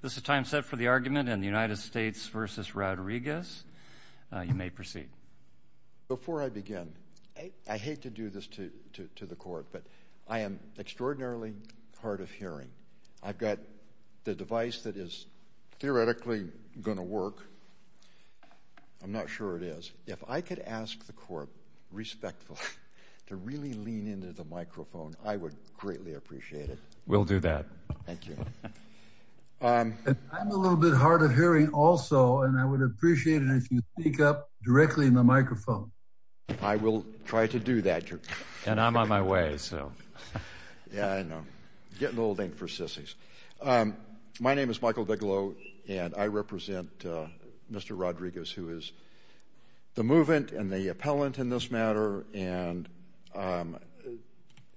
This is time set for the argument in the United States v. Rodriguez. You may proceed. Before I begin, I hate to do this to the Court, but I am extraordinarily hard of hearing. I've got the device that is theoretically going to work. I'm not sure it is. If I could ask the Court respectfully to really lean into the microphone, I would greatly appreciate it. We'll do that. Thank you. I'm a little bit hard of hearing also, and I would appreciate it if you speak up directly in the microphone. I will try to do that, Your Honor. And I'm on my way, so. Yeah, I know. Getting old ain't for sissies. My name is Michael Bigelow, and I represent Mr. Rodriguez, who is the movement and the appellant in this matter. And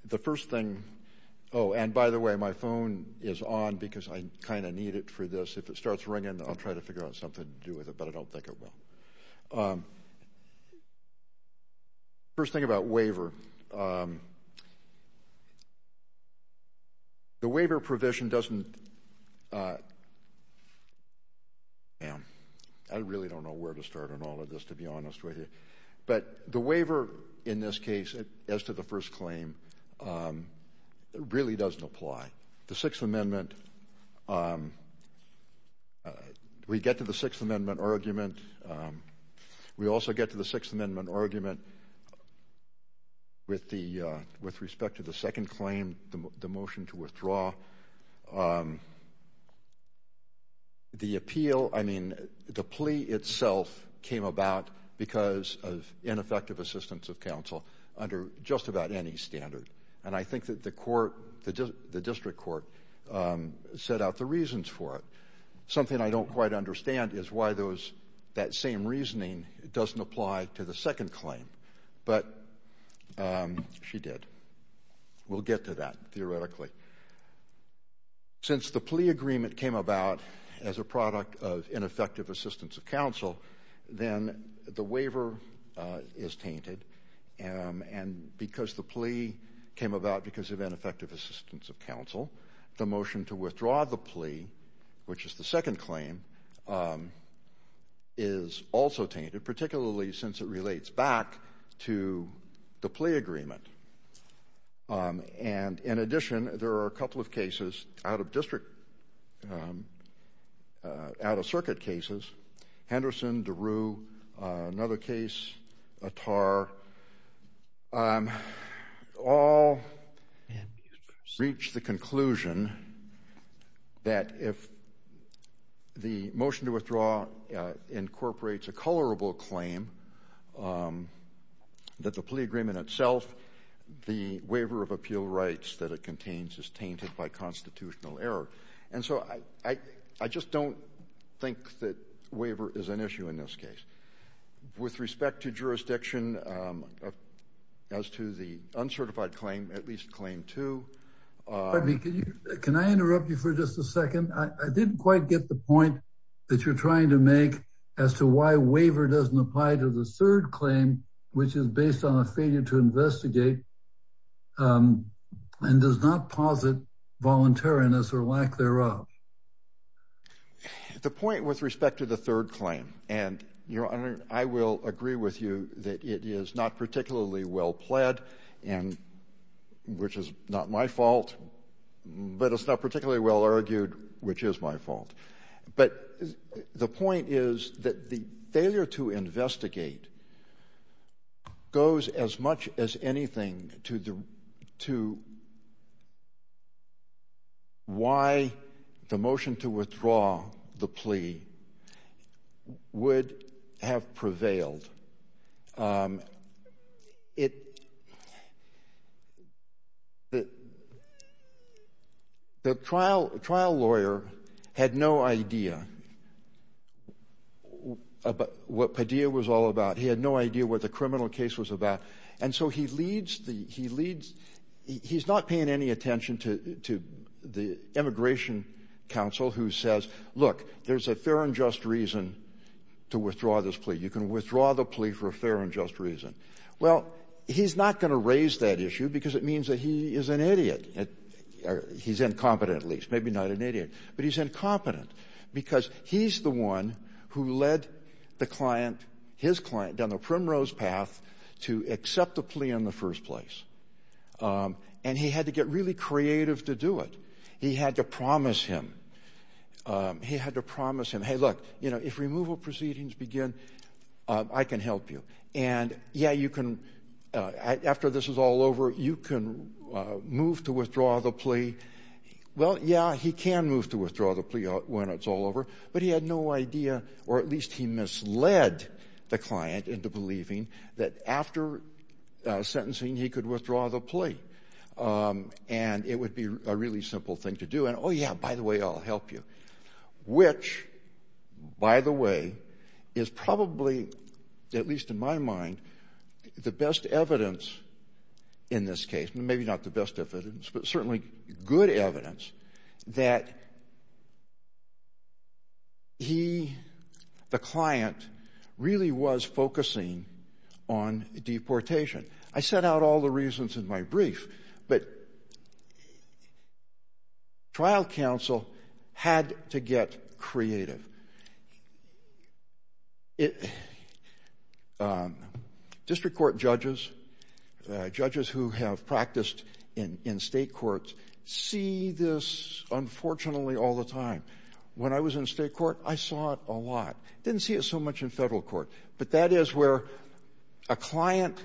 the first thing – oh, and by the way, my phone is on because I kind of need it for this. If it starts ringing, I'll try to figure out something to do with it, but I don't think it will. First thing about waiver, the waiver provision doesn't – I really don't know where to start on all of this, to be honest with you. But the waiver in this case, as to the first claim, really doesn't apply. The Sixth Amendment – we get to the Sixth Amendment argument. We also get to the Sixth Amendment argument with respect to the second claim, the motion to withdraw. The appeal – I mean, the plea itself came about because of ineffective assistance of counsel under just about any standard. And I think that the court – the district court set out the reasons for it. Something I don't quite understand is why those – that same reasoning doesn't apply to the second claim. But she did. We'll get to that, theoretically. Since the plea agreement came about as a product of ineffective assistance of counsel, then the waiver is tainted. And because the plea came about because of ineffective assistance of counsel, the motion to withdraw the plea, which is the second claim, is also tainted, particularly since it relates back to the plea agreement. And in addition, there are a couple of cases out of district – out-of-circuit cases. Henderson, DeRue, another case, Attar, all reach the conclusion that if the motion to withdraw incorporates a colorable claim, that the plea agreement itself, the waiver of appeal rights that it contains, is tainted by constitutional error. And so I just don't think that waiver is an issue in this case. With respect to jurisdiction as to the uncertified claim, at least claim two – Pardon me. Can I interrupt you for just a second? I didn't quite get the point that you're trying to make as to why waiver doesn't apply to the third claim, which is based on a failure to investigate and does not posit voluntariness or lack thereof. The point with respect to the third claim – and, Your Honor, I will agree with you that it is not particularly well pled, which is not my fault, but it's not particularly well argued, which is my fault. But the point is that the failure to investigate goes as much as anything to why the motion to withdraw the plea would have prevailed. The trial lawyer had no idea what Padilla was all about. He had no idea what the criminal case was about. And so he leads – he's not paying any attention to the immigration counsel who says, look, there's a fair and just reason to withdraw this plea. You can withdraw the plea for a fair and just reason. Well, he's not going to raise that issue because it means that he is an idiot. He's incompetent, at least. Maybe not an idiot. But he's incompetent because he's the one who led the client, his client, down the primrose path to accept the plea in the first place. And he had to get really creative to do it. He had to promise him. He had to promise him, hey, look, you know, if removal proceedings begin, I can help you. And, yeah, you can – after this is all over, you can move to withdraw the plea. Well, yeah, he can move to withdraw the plea when it's all over, but he had no idea, or at least he misled the client into believing that after sentencing he could withdraw the plea. And it would be a really simple thing to do. And, oh, yeah, by the way, I'll help you. Which, by the way, is probably, at least in my mind, the best evidence in this case. Maybe not the best evidence, but certainly good evidence that he, the client, really was focusing on deportation. I set out all the reasons in my brief, but trial counsel had to get creative. District court judges, judges who have practiced in state courts, see this, unfortunately, all the time. When I was in state court, I saw it a lot. Didn't see it so much in federal court. But that is where a client,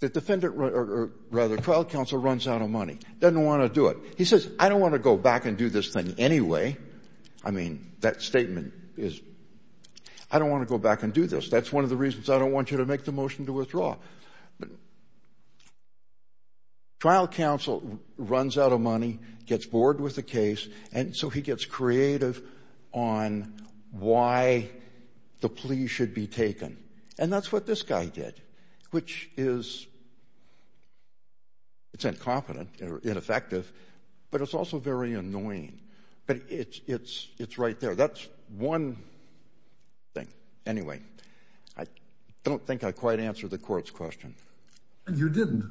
the defendant, or rather trial counsel, runs out of money, doesn't want to do it. He says, I don't want to go back and do this thing anyway. I mean, that statement is, I don't want to go back and do this. That's one of the reasons I don't want you to make the motion to withdraw. But trial counsel runs out of money, gets bored with the case, and so he gets creative on why the plea should be taken. And that's what this guy did, which is, it's incompetent or ineffective, but it's also very annoying. But it's right there. That's one thing. Anyway, I don't think I quite answered the court's question. You didn't.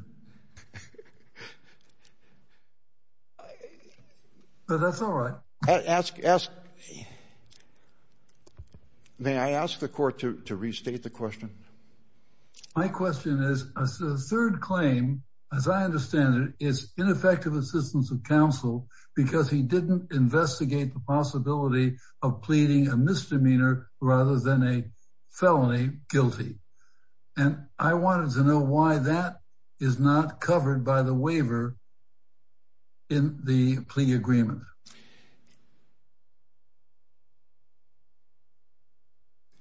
But that's all right. May I ask the court to restate the question? My question is, a third claim, as I understand it, is ineffective assistance of counsel because he didn't investigate the possibility of pleading a misdemeanor rather than a felony guilty. And I wanted to know why that is not covered by the waiver in the plea agreement.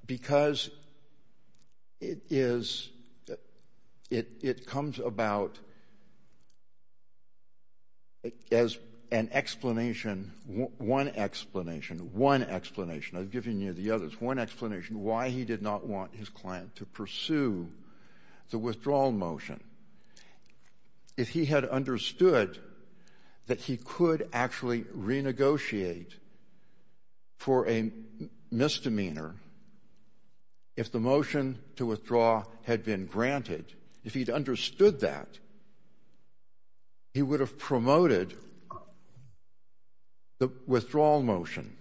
Because it is, it comes about as an explanation, one explanation, one explanation. I've given you the others. One explanation, why he did not want his client to pursue the withdrawal motion. If he had understood that he could actually renegotiate for a misdemeanor, if the motion to withdraw had been granted, if he'd understood that, he would have promoted the withdrawal motion.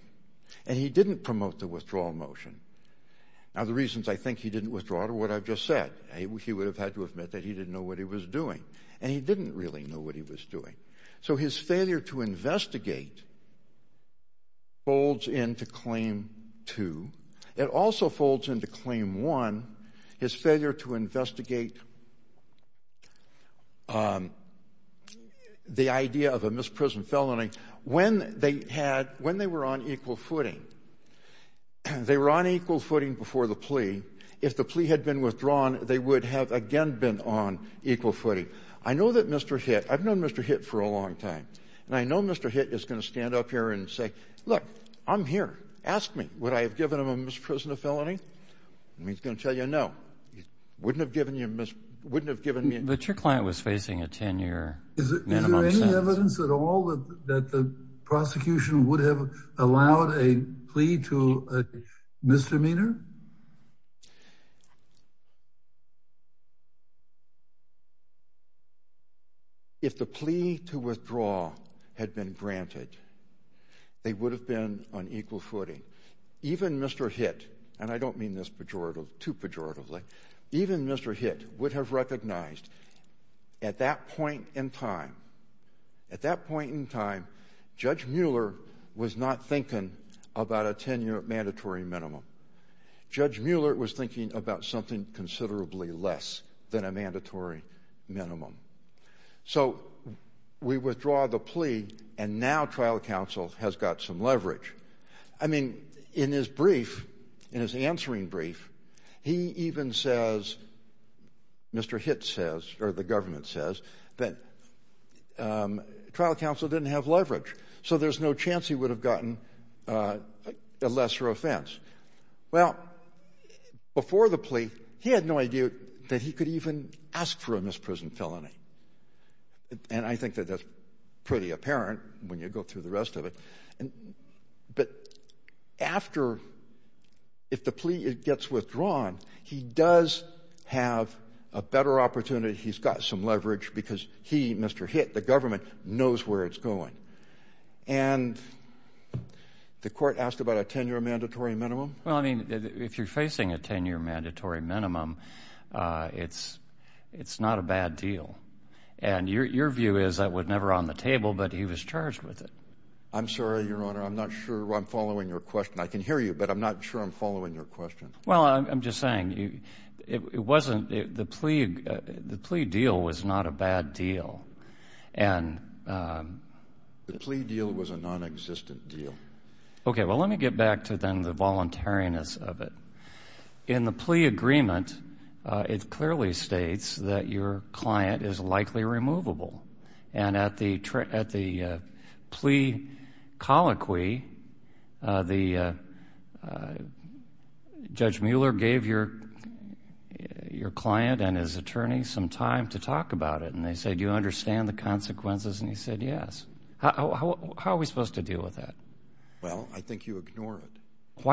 And he didn't promote the withdrawal motion. Now, the reasons I think he didn't withdraw are what I've just said. He would have had to admit that he didn't know what he was doing. And he didn't really know what he was doing. So his failure to investigate folds into Claim 2. It also folds into Claim 1, his failure to investigate the idea of a misprisoned felony. When they had, when they were on equal footing, they were on equal footing before the plea. If the plea had been withdrawn, they would have again been on equal footing. I know that Mr. Hitt, I've known Mr. Hitt for a long time. And I know Mr. Hitt is going to stand up here and say, look, I'm here. Ask me. Would I have given him a misprisoned felony? And he's going to tell you no. Wouldn't have given you, wouldn't have given me. But your client was facing a 10-year minimum sentence. Is there any evidence at all that the prosecution would have allowed a plea to a misdemeanor? If the plea to withdraw had been granted, they would have been on equal footing. Even Mr. Hitt, and I don't mean this pejoratively, too pejoratively, even Mr. Hitt would have recognized at that point in time, at that point in time, Judge Mueller was not thinking about a 10-year mandatory minimum. Judge Mueller was thinking about something considerably less than a mandatory minimum. So we withdraw the plea, and now trial counsel has got some leverage. I mean, in his brief, in his answering brief, he even says, Mr. Hitt says, or the government says, that trial counsel didn't have leverage, so there's no chance he would have gotten a lesser offense. Well, before the plea, he had no idea that he could even ask for a misprisoned felony. And I think that that's pretty apparent when you go through the rest of it. But after, if the plea gets withdrawn, he does have a better opportunity. He's got some leverage because he, Mr. Hitt, the government, knows where it's going. And the court asked about a 10-year mandatory minimum. Well, I mean, if you're facing a 10-year mandatory minimum, it's not a bad deal. And your view is that was never on the table, but he was charged with it. I'm sorry, Your Honor, I'm not sure I'm following your question. I can hear you, but I'm not sure I'm following your question. Well, I'm just saying, it wasn't, the plea deal was not a bad deal. The plea deal was a nonexistent deal. Okay, well, let me get back to then the voluntariness of it. In the plea agreement, it clearly states that your client is likely removable. And at the plea colloquy, Judge Mueller gave your client and his attorney some time to talk about it. And they said, do you understand the consequences? And he said, yes. How are we supposed to deal with that? Well, I think you ignore it.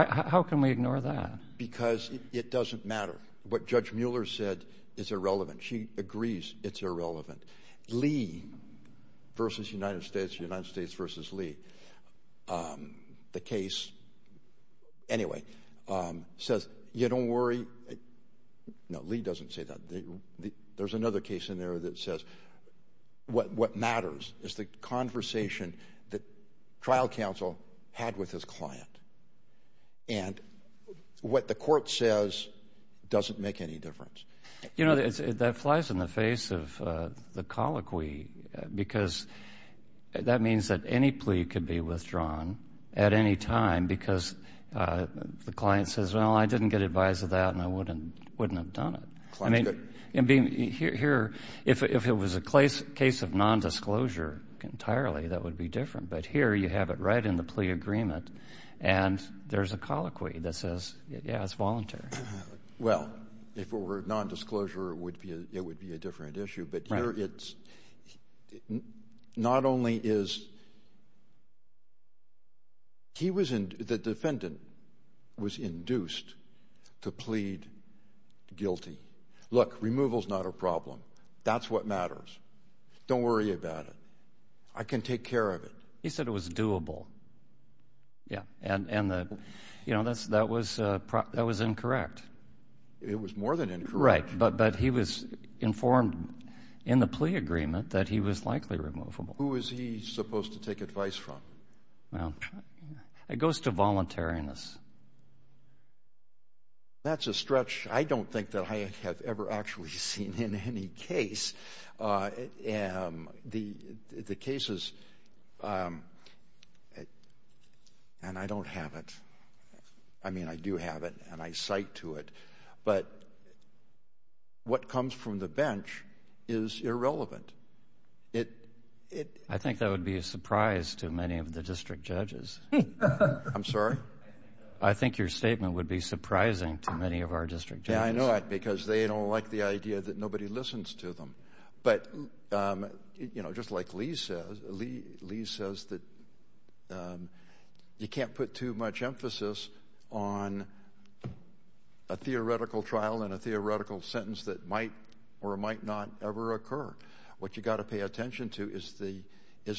How can we ignore that? Because it doesn't matter. What Judge Mueller said is irrelevant. She agrees it's irrelevant. Lee v. United States, United States v. Lee, the case, anyway, says you don't worry. No, Lee doesn't say that. There's another case in there that says what matters is the conversation that trial counsel had with his client. And what the court says doesn't make any difference. You know, that flies in the face of the colloquy, because that means that any plea could be withdrawn at any time because the client says, well, I didn't get advice of that and I wouldn't have done it. I mean, here, if it was a case of nondisclosure entirely, that would be different. But here you have it right in the plea agreement, and there's a colloquy that says, yeah, it's voluntary. Well, if it were nondisclosure, it would be a different issue. But here it's not only is he was in the defendant was induced to plead guilty. Look, removal is not a problem. That's what matters. Don't worry about it. I can take care of it. He said it was doable. Yeah, and, you know, that was incorrect. It was more than incorrect. Right, but he was informed in the plea agreement that he was likely removable. Who was he supposed to take advice from? Well, it goes to voluntariness. That's a stretch I don't think that I have ever actually seen in any case. The cases, and I don't have it. I mean, I do have it, and I cite to it. But what comes from the bench is irrelevant. I think that would be a surprise to many of the district judges. I'm sorry? I think your statement would be surprising to many of our district judges. Yeah, I know that because they don't like the idea that nobody listens to them. But, you know, just like Lee says, you can't put too much emphasis on a theoretical trial and a theoretical sentence that might or might not ever occur. What you've got to pay attention to is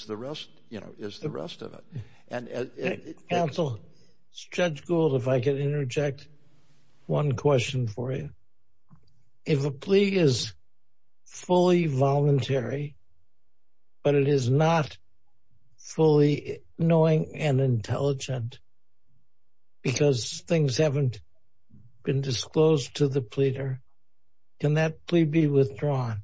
the rest of it. Counsel, Judge Gould, if I could interject one question for you. If a plea is fully voluntary, but it is not fully knowing and intelligent because things haven't been disclosed to the pleader, can that plea be withdrawn?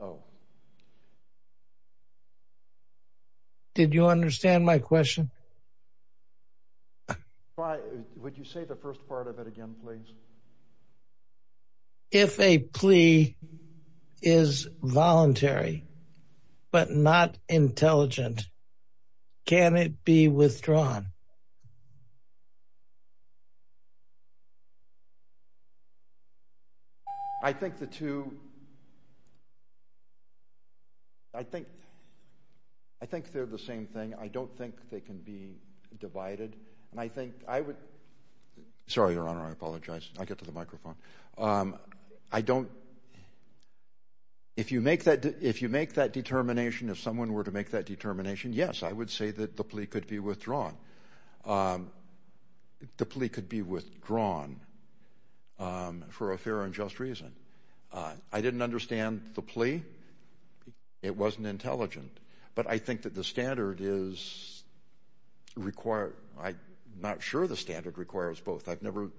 Oh. Did you understand my question? Would you say the first part of it again, please? If a plea is voluntary but not intelligent, can it be withdrawn? I think the two – I think they're the same thing. I don't think they can be divided. And I think I would – sorry, Your Honor, I apologize. I'll get to the microphone. I don't – if you make that determination, if someone were to make that determination, yes, I would say that the plea could be withdrawn. The plea could be withdrawn for a fair and just reason. I didn't understand the plea. It wasn't intelligent. But I think that the standard is required – I'm not sure the standard requires both. I've never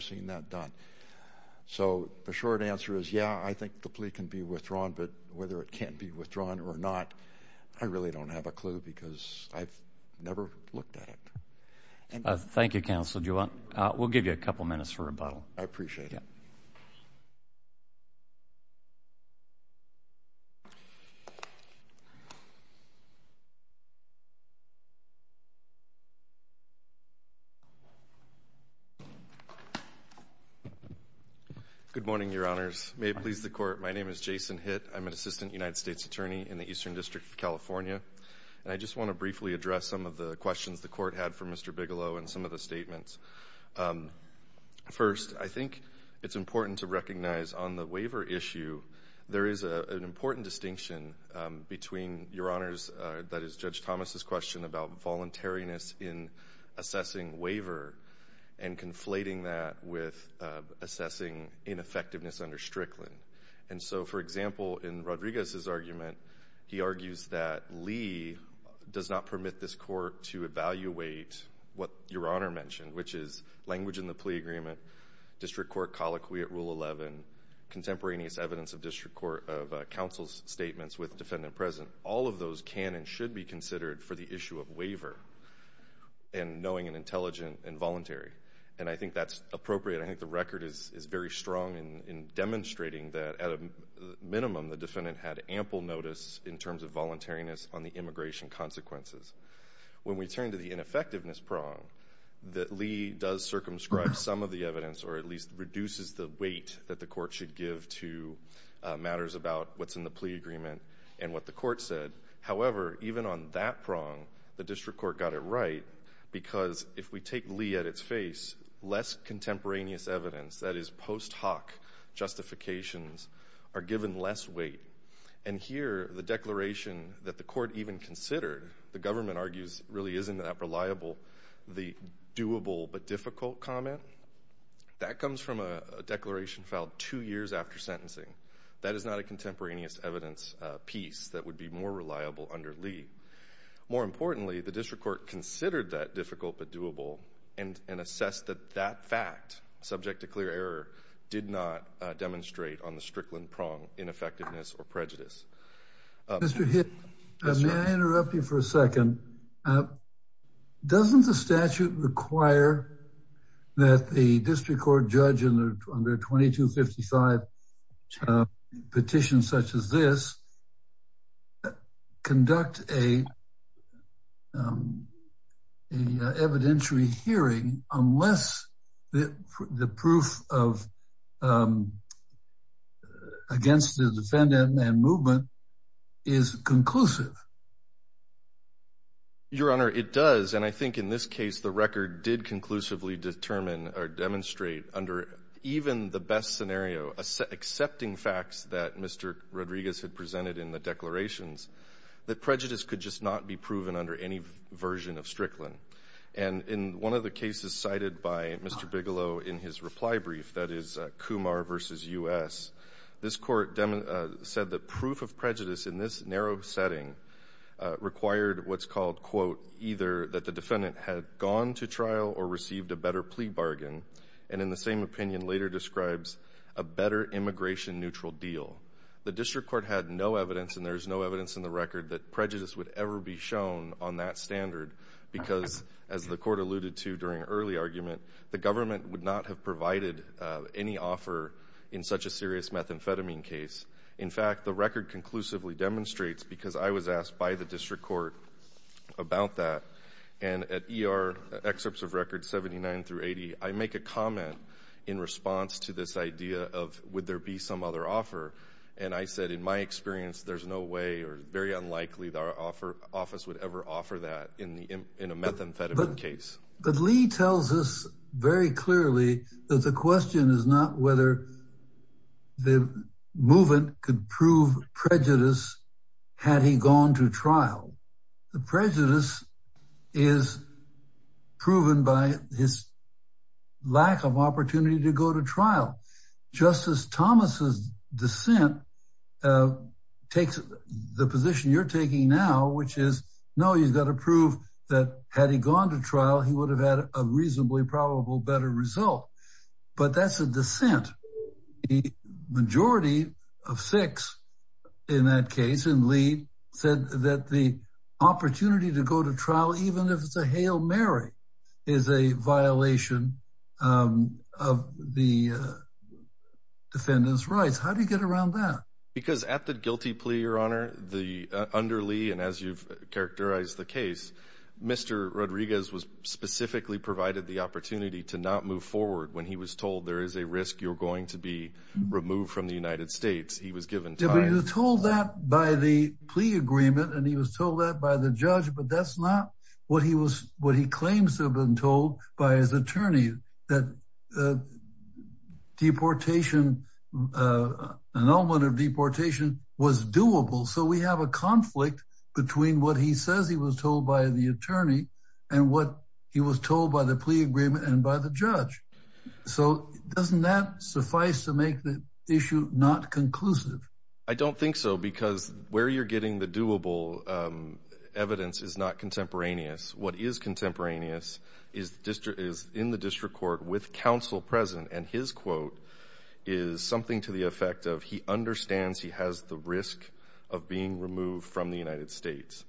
seen that done. So the short answer is, yeah, I think the plea can be withdrawn. But whether it can be withdrawn or not, I really don't have a clue because I've never looked at it. Thank you, Counsel. We'll give you a couple minutes for rebuttal. I appreciate it. Thank you. Good morning, Your Honors. May it please the Court, my name is Jason Hitt. I'm an Assistant United States Attorney in the Eastern District of California. And I just want to briefly address some of the questions the Court had for Mr. Bigelow and some of the statements. First, I think it's important to recognize on the waiver issue, there is an important distinction between, Your Honors, that is Judge Thomas' question about voluntariness in assessing waiver and conflating that with assessing ineffectiveness under Strickland. And so, for example, in Rodriguez's argument, he argues that Lee does not permit this Court to evaluate what Your Honor mentioned, which is language in the plea agreement, district court colloquy at Rule 11, contemporaneous evidence of council's statements with defendant present. All of those can and should be considered for the issue of waiver and knowing and intelligent and voluntary. And I think that's appropriate. I think the record is very strong in demonstrating that, at a minimum, the defendant had ample notice in terms of voluntariness on the immigration consequences. When we turn to the ineffectiveness prong, that Lee does circumscribe some of the evidence or at least reduces the weight that the Court should give to matters about what's in the plea agreement and what the Court said. However, even on that prong, the district court got it right because if we take Lee at its face, less contemporaneous evidence, that is post hoc justifications, are given less weight. And here, the declaration that the Court even considered, the government argues really isn't that reliable, the doable but difficult comment, that comes from a declaration filed two years after sentencing. That is not a contemporaneous evidence piece that would be more reliable under Lee. More importantly, the district court considered that difficult but doable and assessed that that fact, subject to clear error, did not demonstrate on the Strickland prong ineffectiveness or prejudice. Mr. Hitt, may I interrupt you for a second? Doesn't the statute require that the district court judge in their 2255 petition such as this conduct an evidentiary hearing unless the proof against the defendant and movement is conclusive? Your Honor, it does. And I think in this case, the record did conclusively determine or demonstrate under even the best scenario, accepting facts that Mr. Rodriguez had presented in the declarations, that prejudice could just not be proven under any version of Strickland. And in one of the cases cited by Mr. Bigelow in his reply brief, that is Kumar v. U.S., this Court said that proof of prejudice in this narrow setting required what's called, quote, either that the defendant had gone to trial or received a better plea bargain and in the same opinion later describes a better immigration neutral deal. The district court had no evidence and there's no evidence in the record that prejudice would ever be shown on that standard because as the Court alluded to during early argument, the government would not have provided any offer in such a serious methamphetamine case. In fact, the record conclusively demonstrates because I was asked by the district court about that. And at ER excerpts of records 79 through 80, I make a comment in response to this idea of would there be some other offer. And I said in my experience there's no way or very unlikely that our office would ever offer that in a methamphetamine case. But Lee tells us very clearly that the question is not whether the movement could prove prejudice had he gone to trial. The prejudice is proven by his lack of opportunity to go to trial. Justice Thomas's dissent takes the position you're taking now, which is no, you've got to prove that had he gone to trial, he would have had a reasonably probable better result. But that's a dissent. The majority of six in that case in Lee said that the opportunity to go to trial, even if it's a Hail Mary, is a violation of the defendant's rights. How do you get around that? Because at the guilty plea, Your Honor, under Lee, and as you've characterized the case, Mr. Rodriguez was specifically provided the opportunity to not move forward when he was told there is a risk you're going to be removed from the United States. He was given time. He was told that by the plea agreement and he was told that by the judge, but that's not what he claims to have been told by his attorney, that an element of deportation was doable. So we have a conflict between what he says he was told by the attorney and what he was told by the plea agreement and by the judge. So doesn't that suffice to make the issue not conclusive? I don't think so because where you're getting the doable evidence is not contemporaneous. What is contemporaneous is in the district court with counsel present, and his quote is something to the effect of he understands he has the risk of being removed from the United States.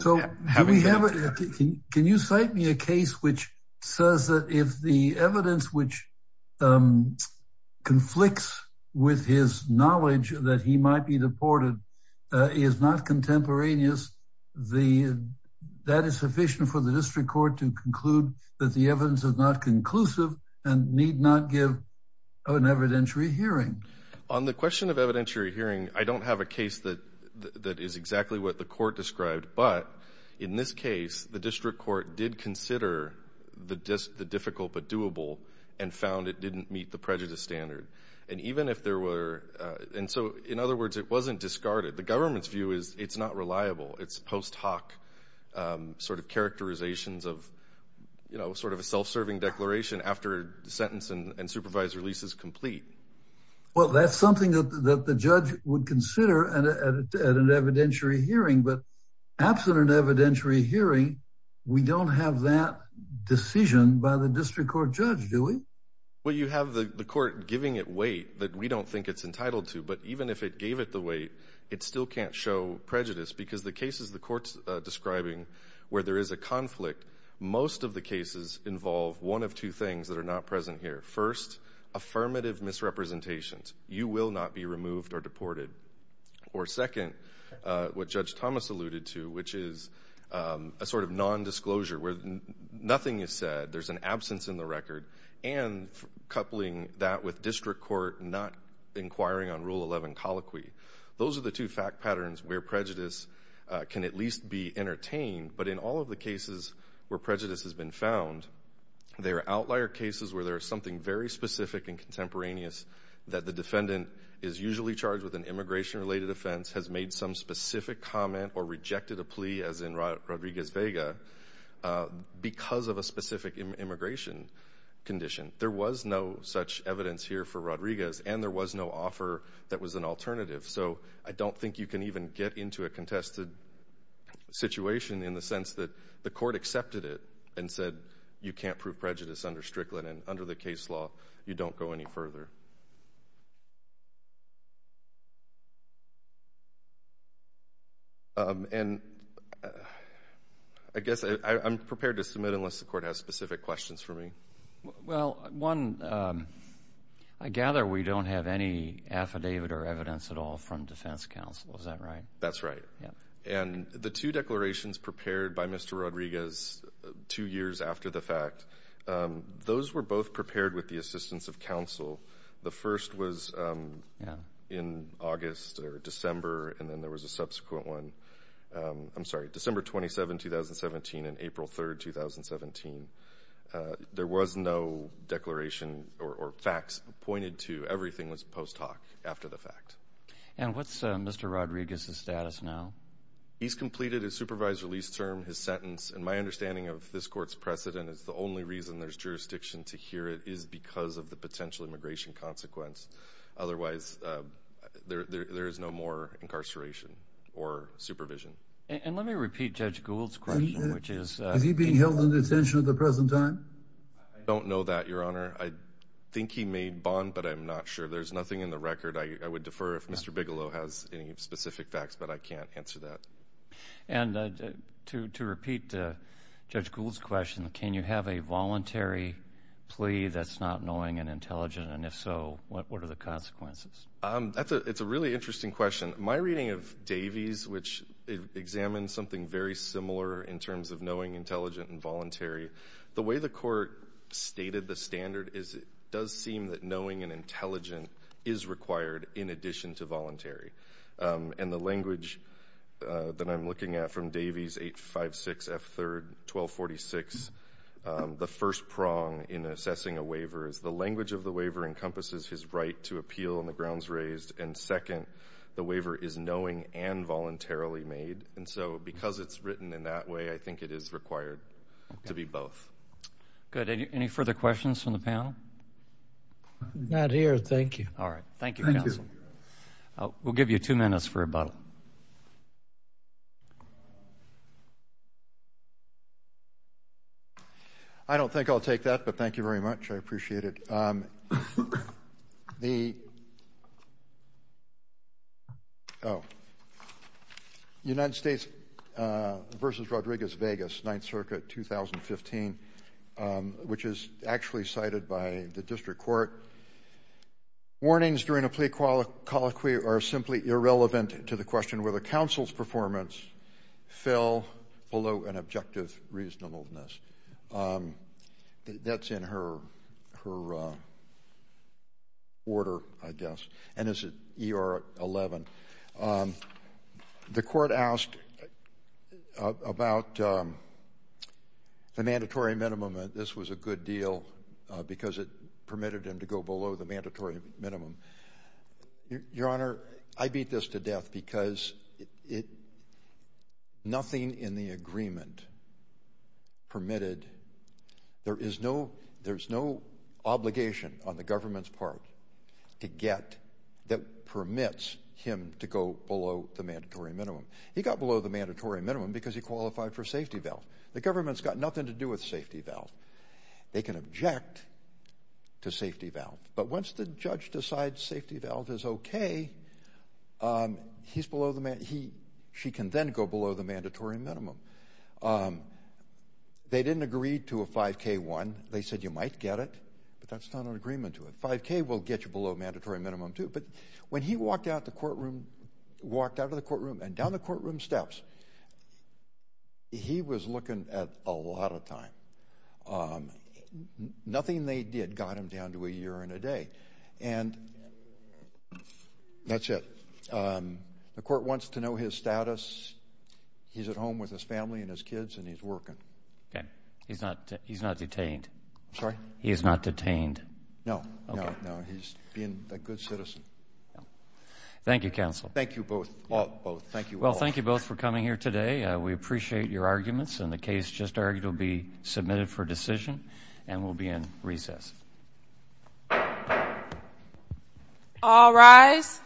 So can you cite me a case which says that if the evidence which conflicts with his knowledge that he might be deported is not contemporaneous, that is sufficient for the district court to conclude that the evidence is not conclusive and need not give an evidentiary hearing. On the question of evidentiary hearing, I don't have a case that is exactly what the court described, but in this case, the district court did consider the difficult but doable and found it didn't meet the prejudice standard. And even if there were – and so in other words, it wasn't discarded. The government's view is it's not reliable. It's post hoc sort of characterizations of, you know, sort of a self-serving declaration after the sentence and supervised release is complete. Well, that's something that the judge would consider at an evidentiary hearing, but absent an evidentiary hearing, we don't have that decision by the district court judge, do we? Well, you have the court giving it weight that we don't think it's entitled to, but even if it gave it the weight, it still can't show prejudice because the cases the court's describing where there is a conflict, most of the cases involve one of two things that are not present here. First, affirmative misrepresentations. You will not be removed or deported. Or second, what Judge Thomas alluded to, which is a sort of nondisclosure where nothing is said, there's an absence in the record, and coupling that with district court not inquiring on Rule 11 colloquy. Those are the two fact patterns where prejudice can at least be entertained, but in all of the cases where prejudice has been found, there are outlier cases where there is something very specific and contemporaneous that the defendant is usually charged with an immigration-related offense, has made some specific comment or rejected a plea, as in Rodriguez-Vega, because of a specific immigration condition. There was no such evidence here for Rodriguez, and there was no offer that was an alternative. So I don't think you can even get into a contested situation in the sense that the court accepted it and said you can't prove prejudice under Strickland and under the case law, you don't go any further. And I guess I'm prepared to submit unless the court has specific questions for me. Well, one, I gather we don't have any affidavit or evidence at all from defense counsel. Is that right? That's right. And the two declarations prepared by Mr. Rodriguez two years after the fact, those were both prepared with the assistance of counsel. The first was in August or December, and then there was a subsequent one, I'm sorry, December 27, 2017 and April 3, 2017. There was no declaration or facts pointed to. Everything was post hoc after the fact. And what's Mr. Rodriguez's status now? He's completed his supervised release term, his sentence, and my understanding of this court's precedent is the only reason there's jurisdiction to hear it is because of the potential immigration consequence. Otherwise, there is no more incarceration or supervision. And let me repeat Judge Gould's question, which is— I don't know that, Your Honor. I think he made bond, but I'm not sure. There's nothing in the record. I would defer if Mr. Bigelow has any specific facts, but I can't answer that. And to repeat Judge Gould's question, can you have a voluntary plea that's not knowing and intelligent? And if so, what are the consequences? It's a really interesting question. My reading of Davies, which examines something very similar in terms of knowing, intelligent, and voluntary, the way the court stated the standard is it does seem that knowing and intelligent is required in addition to voluntary. And the language that I'm looking at from Davies 856 F. 3rd 1246, the first prong in assessing a waiver is the language of the waiver encompasses his right to appeal and the grounds raised, and second, the waiver is knowing and voluntarily made. And so because it's written in that way, I think it is required to be both. Good. Any further questions from the panel? Not here. Thank you. All right. Thank you, counsel. We'll give you two minutes for rebuttal. I don't think I'll take that, but thank you very much. I appreciate it. The United States versus Rodriguez-Vegas 9th Circuit 2015, which is actually cited by the district court, warnings during a plea colloquy are simply irrelevant to the question whether counsel's performance fell below an objective reasonableness. That's in her order, I guess, and it's at ER 11. The court asked about the mandatory minimum, and this was a good deal because it permitted him to go below the mandatory minimum. Your Honor, I beat this to death because nothing in the agreement permitted. There is no obligation on the government's part to get that permits him to go below the mandatory minimum. He got below the mandatory minimum because he qualified for safety valve. The government's got nothing to do with safety valve. They can object to safety valve, but once the judge decides safety valve is okay, she can then go below the mandatory minimum. They didn't agree to a 5K-1. They said you might get it, but that's not an agreement to it. 5K will get you below mandatory minimum too, but when he walked out of the courtroom and down the courtroom steps, he was looking at a lot of time. Nothing they did got him down to a year and a day, and that's it. The court wants to know his status. He's at home with his family and his kids, and he's working. Okay. He's not detained? I'm sorry? He is not detained? No, no, no. Okay. He's being a good citizen. Thank you, counsel. Thank you both. Well, thank you both for coming here today. We appreciate your arguments, and the case just argued will be submitted for decision and will be in recess. All rise.